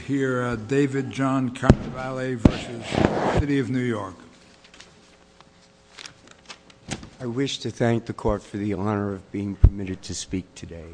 I wish to thank the court for the honor of being permitted to speak today.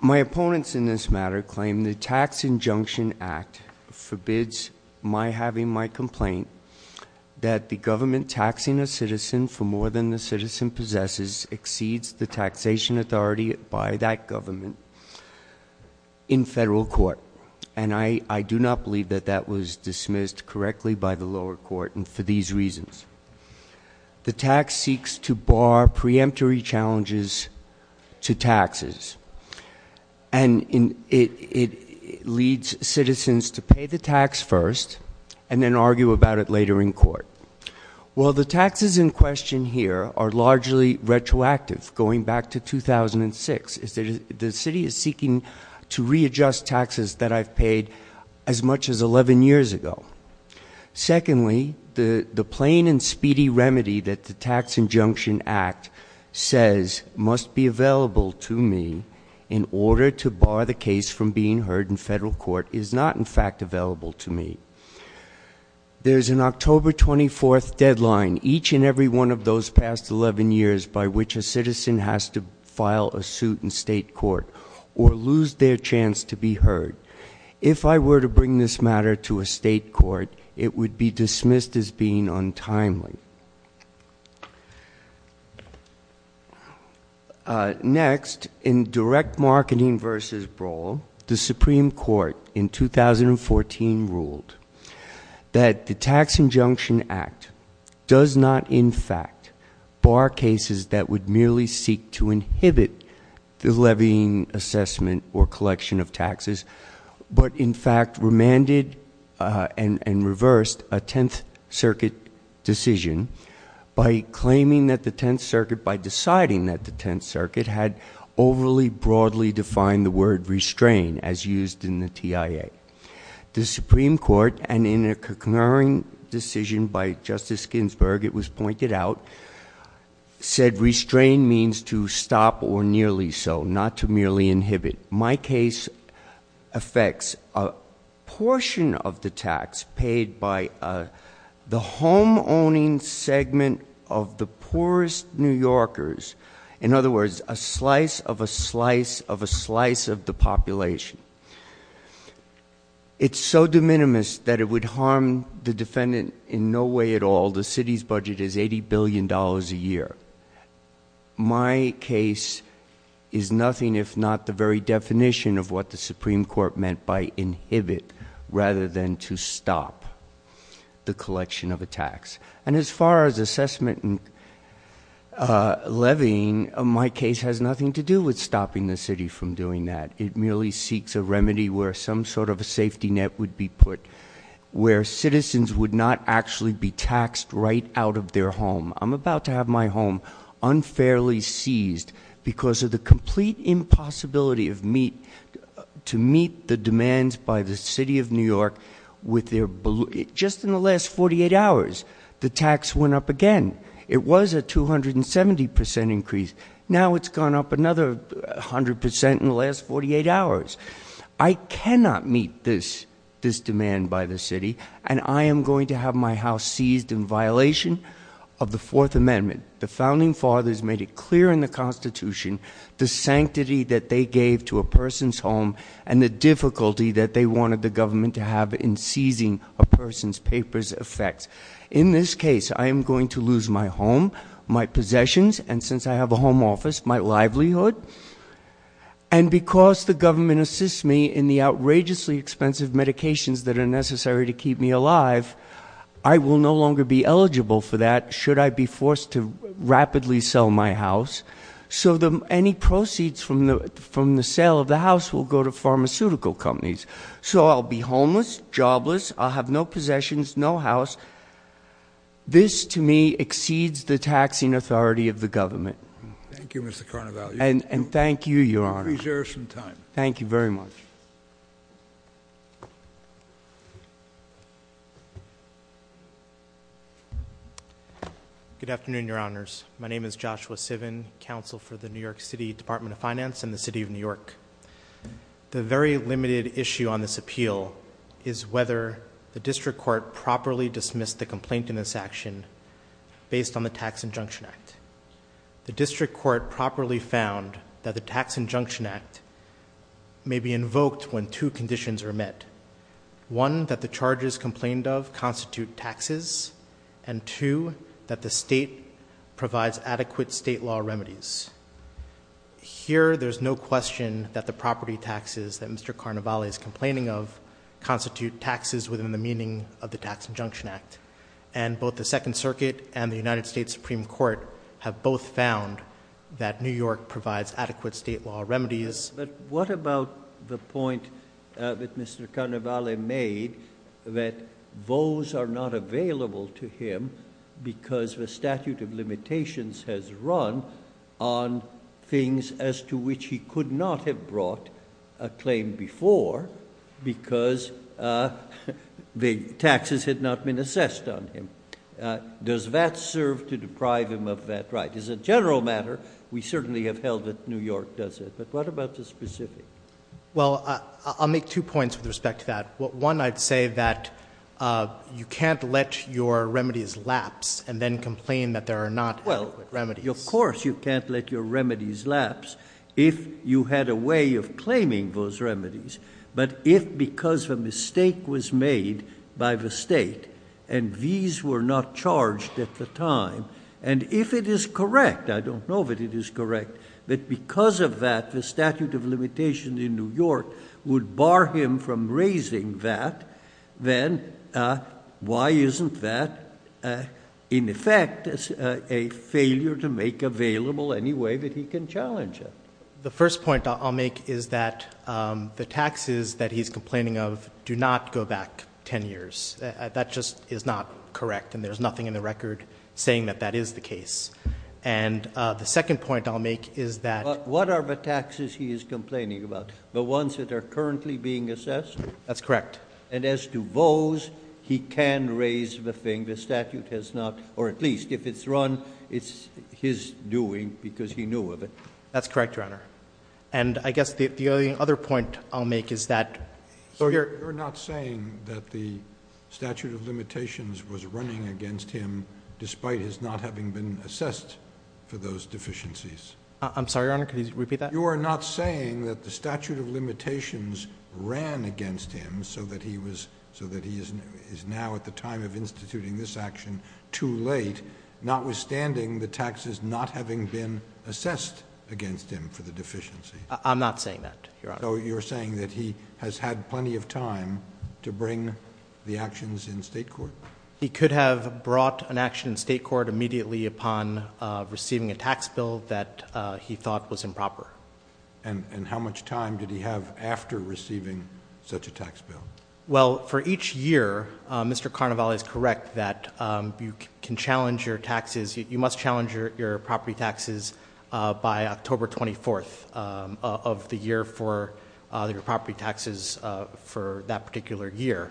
My opponents in this matter claim the Tax Injunction Act forbids my having my complaint that the government taxing a citizen for more than the citizen possesses exceeds the taxation authority by that government in federal court, and I do not believe that that was dismissed correctly by the lower court for these reasons. The tax seeks to bar preemptory challenges to taxes, and it leads citizens to pay the tax first and then argue about it later in court. While the taxes in question here are largely retroactive, going back to 2006, the City is seeking to readjust taxes that I've paid as much as 11 years ago. Secondly, the plain and speedy remedy that the Tax Injunction Act says must be available to me in order to bar the case from being heard in federal court is not in fact available to me. There's an October 24th deadline each and every one of those past 11 years by which a citizen has to file a suit in state court or lose their chance to be heard. If I were to bring this matter to a state court, it would be dismissed as being untimely. Next, in direct marketing versus brawl, the Supreme Court in 2014 ruled that the Tax Injunction Act does not in fact bar cases that would merely seek to inhibit the levying assessment or collection of taxes, but in fact remanded and reversed a Tenth Circuit decision by claiming that the Tenth Circuit, by deciding that the Tenth Circuit, had overly broadly defined the word restrain, as used in the TIA. The Supreme Court, and in a concurring decision by Justice Ginsburg, it was pointed out, said restrain means to stop or nearly so, not to merely inhibit. My case affects a portion of the tax paid by the homeowning segment of the poorest New Yorkers. In other words, a slice of a slice of a slice of the population. It's so de minimis that it would harm the defendant in no way at all. The city's budget is $80 billion a year. My case is nothing if not the very definition of what the Supreme Court meant by inhibit, rather than to stop the collection of a tax. And as far as assessment and levying, my case has nothing to do with stopping the city from doing that. It merely seeks a remedy where some sort of a safety net would be put, where citizens would not actually be taxed right out of their home. I'm about to have my home unfairly seized because of the complete impossibility to meet the demands by the city of New York. With their, just in the last 48 hours, the tax went up again. It was a 270% increase. Now it's gone up another 100% in the last 48 hours. I cannot meet this demand by the city. And I am going to have my house seized in violation of the Fourth Amendment. The founding fathers made it clear in the Constitution the sanctity that they gave to a person's home and the difficulty that they wanted the government to have in seizing a person's papers effects. In this case, I am going to lose my home, my possessions, and since I have a home office, my livelihood. And because the government assists me in the outrageously expensive medications that are necessary to keep me alive, I will no longer be eligible for that should I be forced to rapidly sell my house. So any proceeds from the sale of the house will go to pharmaceutical companies. So I'll be homeless, jobless, I'll have no possessions, no house. This, to me, exceeds the taxing authority of the government. Thank you, Mr. Carnevale. And thank you, Your Honor. Please, there is some time. Thank you very much. Good afternoon, Your Honors. My name is Joshua Sivin, counsel for the New York City Department of Finance and the City of New York. The very limited issue on this appeal is whether the district court has properly dismissed the complaint in this action based on the Tax Injunction Act. The district court properly found that the Tax Injunction Act may be invoked when two conditions are met. One, that the charges complained of constitute taxes. And two, that the state provides adequate state law remedies. Here, there's no question that the property taxes that Mr. Carnevale is complaining of constitute taxes within the meaning of the Tax Injunction Act. And both the Second Circuit and the United States Supreme Court have both found that New York provides adequate state law remedies. But what about the point that Mr. Carnevale made that those are not available to him because the statute of limitations has run on things as to which he could not have brought a claim before. Because the taxes had not been assessed on him. Does that serve to deprive him of that right? As a general matter, we certainly have held that New York does it. But what about the specific? Well, I'll make two points with respect to that. One, I'd say that you can't let your remedies lapse and then complain that there are not adequate remedies. Of course, you can't let your remedies lapse if you had a way of claiming those remedies. But if because a mistake was made by the state, and these were not charged at the time, and if it is correct, I don't know if it is correct, that because of that, the statute of limitations in New York would bar him from raising that, then why isn't that in effect a failure to make available any way that he can challenge it? The first point I'll make is that the taxes that he's complaining of do not go back ten years. That just is not correct, and there's nothing in the record saying that that is the case. And the second point I'll make is that- What are the taxes he is complaining about? The ones that are currently being assessed? That's correct. And as to those, he can raise the thing. The statute has not, or at least if it's run, it's his doing because he knew of it. That's correct, Your Honor. And I guess the other point I'll make is that- So you're not saying that the statute of limitations was running against him despite his not having been assessed for those deficiencies? I'm sorry, Your Honor, could you repeat that? You are not saying that the statute of limitations ran against him so that he was, so that he is now at the time of instituting this action too late, notwithstanding the taxes not having been assessed against him for the deficiency? I'm not saying that, Your Honor. So you're saying that he has had plenty of time to bring the actions in state court? He could have brought an action in state court immediately upon receiving a tax bill that he thought was improper. And how much time did he have after receiving such a tax bill? Well, for each year, Mr. Carnevale is correct that you can challenge your taxes. By October 24th of the year for the property taxes for that particular year.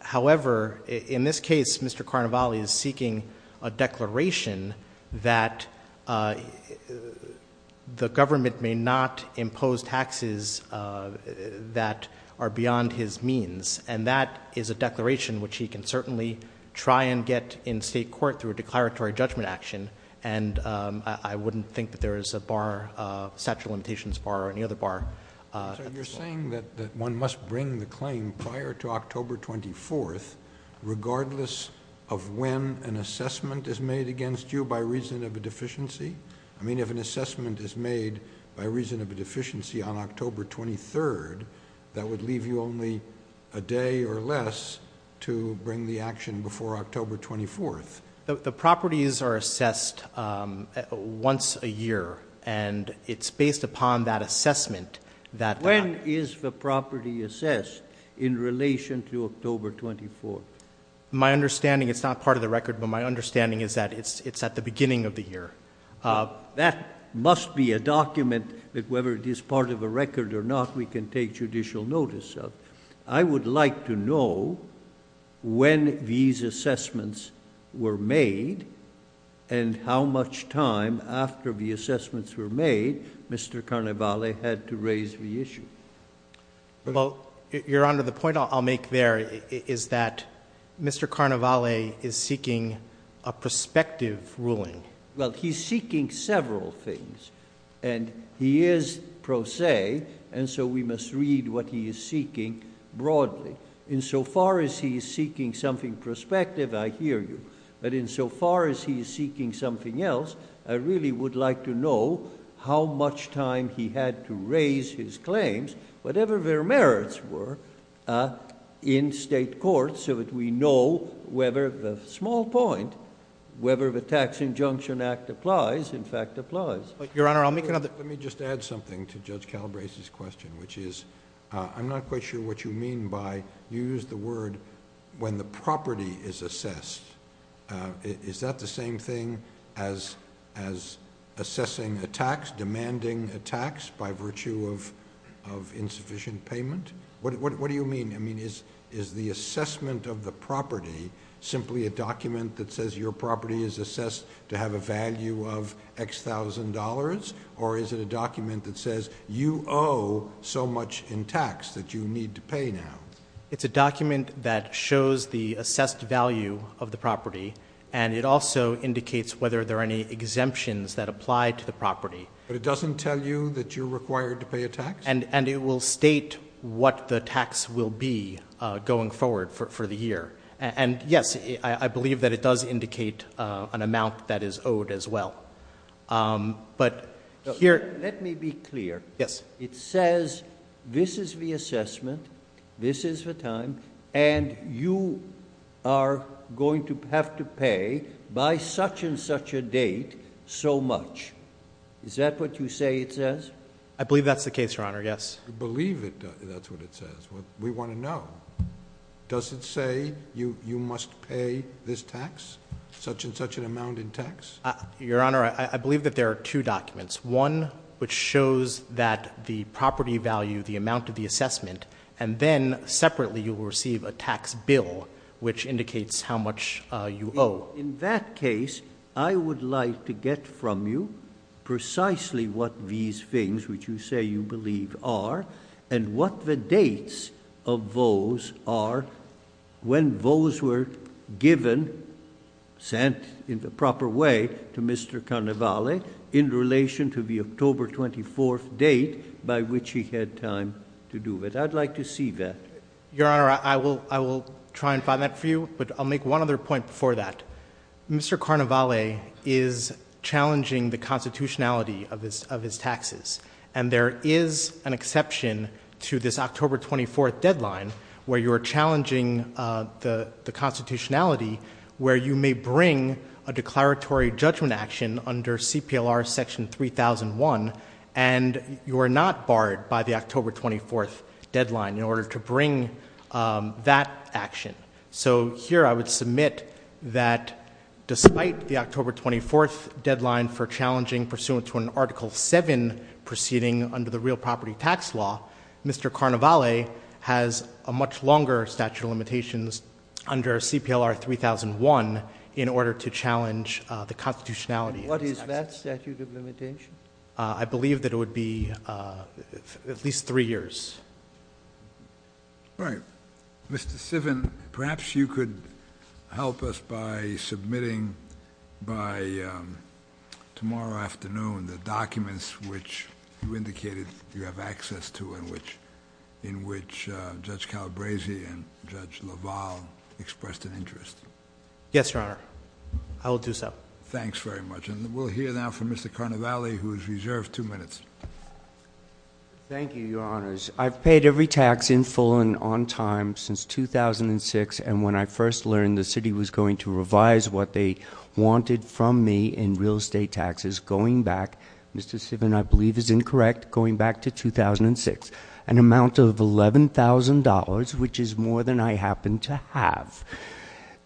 However, in this case, Mr. Carnevale is seeking a declaration that the government may not impose taxes that are beyond his means. And that is a declaration which he can certainly try and get in state court through a declaratory judgment action. And I wouldn't think that there is a bar, a statute of limitations bar or any other bar. So you're saying that one must bring the claim prior to October 24th, regardless of when an assessment is made against you by reason of a deficiency? I mean, if an assessment is made by reason of a deficiency on October 23rd, that would leave you only a day or less to bring the action before October 24th. The properties are assessed once a year, and it's based upon that assessment that- When is the property assessed in relation to October 24th? My understanding, it's not part of the record, but my understanding is that it's at the beginning of the year. That must be a document that whether it is part of a record or not, we can take judicial notice of. I would like to know when these assessments were made, and how much time after the assessments were made, Mr. Carnevale had to raise the issue. Your Honor, the point I'll make there is that Mr. Carnevale is seeking a prospective ruling. Well, he's seeking several things. And he is pro se, and so we must read what he is seeking broadly. In so far as he is seeking something prospective, I hear you. But in so far as he is seeking something else, I really would like to know how much time he had to raise his claims, whatever their merits were, in state court so that we know whether the small point, whether the Tax Injunction Act applies, in fact applies. Let me just add something to Judge Calabrese's question, which is, I'm not quite sure what you mean by, you used the word, when the property is assessed, is that the same thing as assessing a tax, demanding a tax by virtue of insufficient payment? What do you mean? I mean, is the assessment of the property simply a document that says your property is assessed to have a value of X thousand dollars, or is it a document that says you owe so much in tax that you need to pay now? It's a document that shows the assessed value of the property. And it also indicates whether there are any exemptions that apply to the property. But it doesn't tell you that you're required to pay a tax? And it will state what the tax will be going forward for the year. And yes, I believe that it does indicate an amount that is owed as well. But here- Let me be clear. Yes. It says, this is the assessment, this is the time, and you are going to have to pay by such and such a date so much. Is that what you say it says? I believe that's the case, Your Honor, yes. I believe that's what it says. We want to know. Does it say you must pay this tax, such and such an amount in tax? Your Honor, I believe that there are two documents. One which shows that the property value, the amount of the assessment, and then separately you will receive a tax bill which indicates how much you owe. In that case, I would like to get from you precisely what these things, which you say you believe are, and what the dates of those are. When those were given, sent in the proper way to Mr. Carnevale in relation to the October 24th date by which he had time to do it. I'd like to see that. Your Honor, I will try and find that for you, but I'll make one other point before that. Mr. Carnevale is challenging the constitutionality of his taxes. And there is an exception to this October 24th deadline where you are challenging the constitutionality where you may bring a declaratory judgment action under CPLR section 3001. And you are not barred by the October 24th deadline in order to bring that action. So here I would submit that despite the October 24th deadline for challenging pursuant to an article seven proceeding under the real property tax law, Mr. Carnevale has a much longer statute of limitations under CPLR 3001 in order to challenge the constitutionality. What is that statute of limitation? I believe that it would be at least three years. All right, Mr. Sivin, perhaps you could help us by submitting by tomorrow afternoon the documents which you indicated you have access to in which Judge Calabresi and Judge LaValle expressed an interest. Yes, Your Honor. I will do so. Thanks very much. And we'll hear now from Mr. Carnevale, who is reserved two minutes. Thank you, Your Honors. I've paid every tax in full and on time since 2006, and when I first learned the city was going to revise what they wanted from me in real estate taxes going back, Mr. Sivin, I believe is incorrect, going back to 2006, an amount of $11,000, which is more than I happen to have.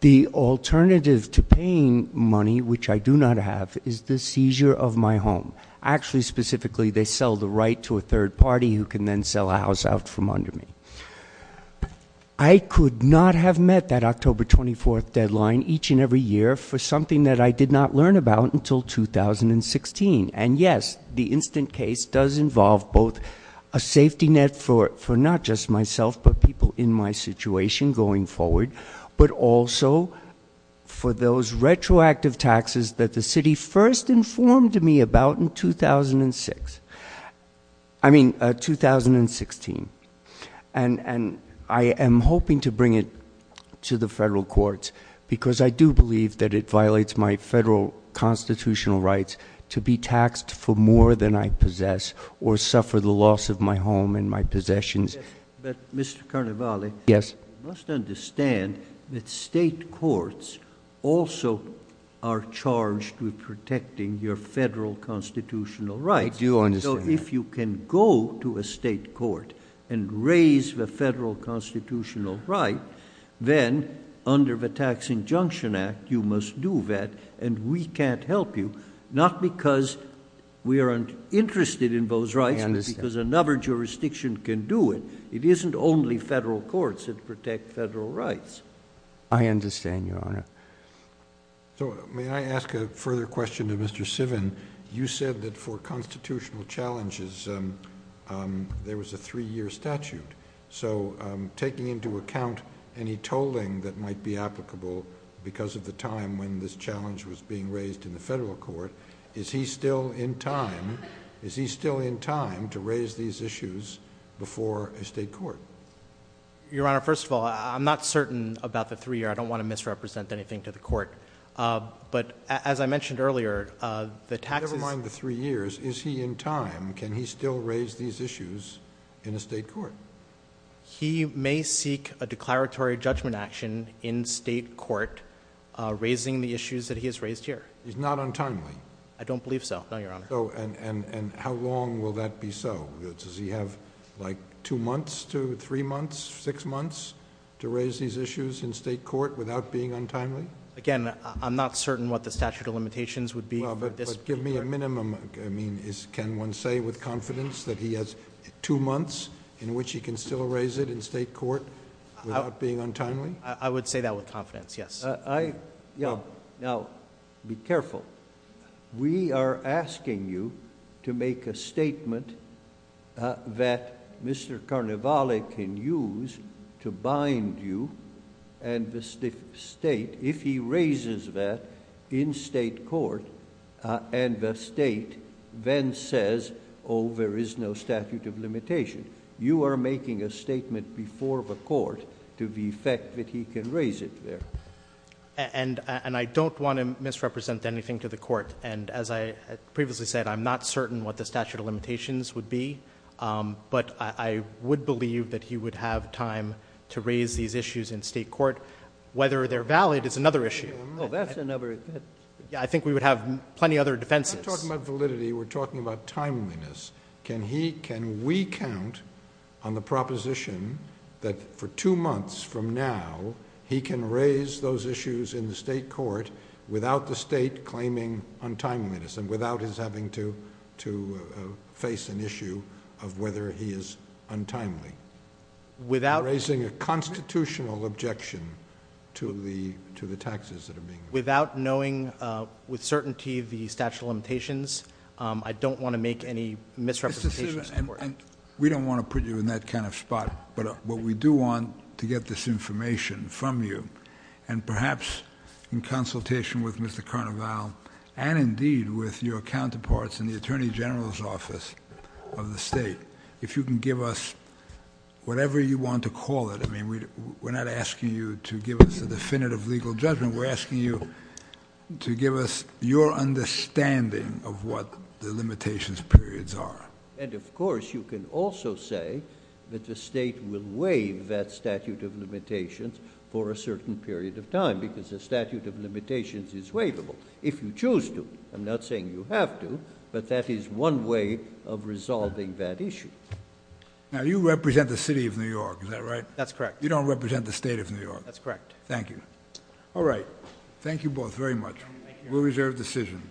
The alternative to paying money, which I do not have, is the seizure of my home. Actually, specifically, they sell the right to a third party who can then sell a house out from under me. I could not have met that October 24th deadline each and every year for something that I did not learn about until 2016. And yes, the instant case does involve both a safety net for not just myself, but people in my situation going forward, but also for those retroactive taxes that the city first informed me about in 2006. I mean, 2016. And I am hoping to bring it to the federal courts because I do believe that it violates my federal constitutional rights to be taxed for more than I possess or suffer the loss of my home and my possessions. But Mr. Carnevale. Yes. You must understand that state courts also are charged with protecting your federal constitutional rights. I do understand that. So if you can go to a state court and raise the federal constitutional right, then under the Tax Injunction Act, you must do that, and we can't help you. Not because we aren't interested in those rights, but because another jurisdiction can do it. It isn't only federal courts that protect federal rights. I understand, Your Honor. So may I ask a further question to Mr. Sivan? You said that for constitutional challenges, there was a three year statute. So taking into account any tolling that might be applicable because of the time when this challenge was being raised in the federal court, is he still in time to raise these issues before a state court? Your Honor, first of all, I'm not certain about the three year. I don't want to misrepresent anything to the court. But as I mentioned earlier, the taxes- Never mind the three years. Is he in time? Can he still raise these issues in a state court? He may seek a declaratory judgment action in state court, raising the issues that he has raised here. He's not untimely? I don't believe so, no, Your Honor. Oh, and how long will that be so? Does he have like two months to three months, six months to raise these issues in state court without being untimely? Again, I'm not certain what the statute of limitations would be for this- But give me a minimum. I mean, can one say with confidence that he has two months in which he can still raise it in state court without being untimely? I would say that with confidence, yes. Now, be careful. We are asking you to make a statement that Mr. Carnevale can use to bind you and the state, if he raises that in state court and the state then says, oh, there is no statute of limitation. You are making a statement before the court to the effect that he can raise it there. And I don't want to misrepresent anything to the court. And as I previously said, I'm not certain what the statute of limitations would be, but I would believe that he would have time to raise these issues in state court. Whether they're valid is another issue. I think we would have plenty other defenses. We're not talking about validity. We're talking about timeliness. Can we count on the proposition that for two months from now, he can raise those issues in the state court without the state claiming untimeliness and without his having to face an issue of whether he is untimely? Without raising a constitutional objection to the taxes that are being without knowing with certainty the statute of limitations. I don't want to make any misrepresentations. We don't want to put you in that kind of spot. But what we do want to get this information from you and perhaps in consultation with Mr. Carnevale and indeed with your counterparts in the attorney general's office of the state. If you can give us whatever you want to call it. I mean, we're not asking you to give us a definitive legal judgment. We're asking you to give us your understanding of what the limitations periods are. And of course, you can also say that the state will waive that statute of limitations for a certain period of time because the statute of limitations is waivable. If you choose to, I'm not saying you have to, but that is one way of resolving that issue. Now you represent the city of New York. Is that right? That's correct. You don't represent the state of New York. That's correct. Thank you. All right. Thank you both very much. We'll reserve decision.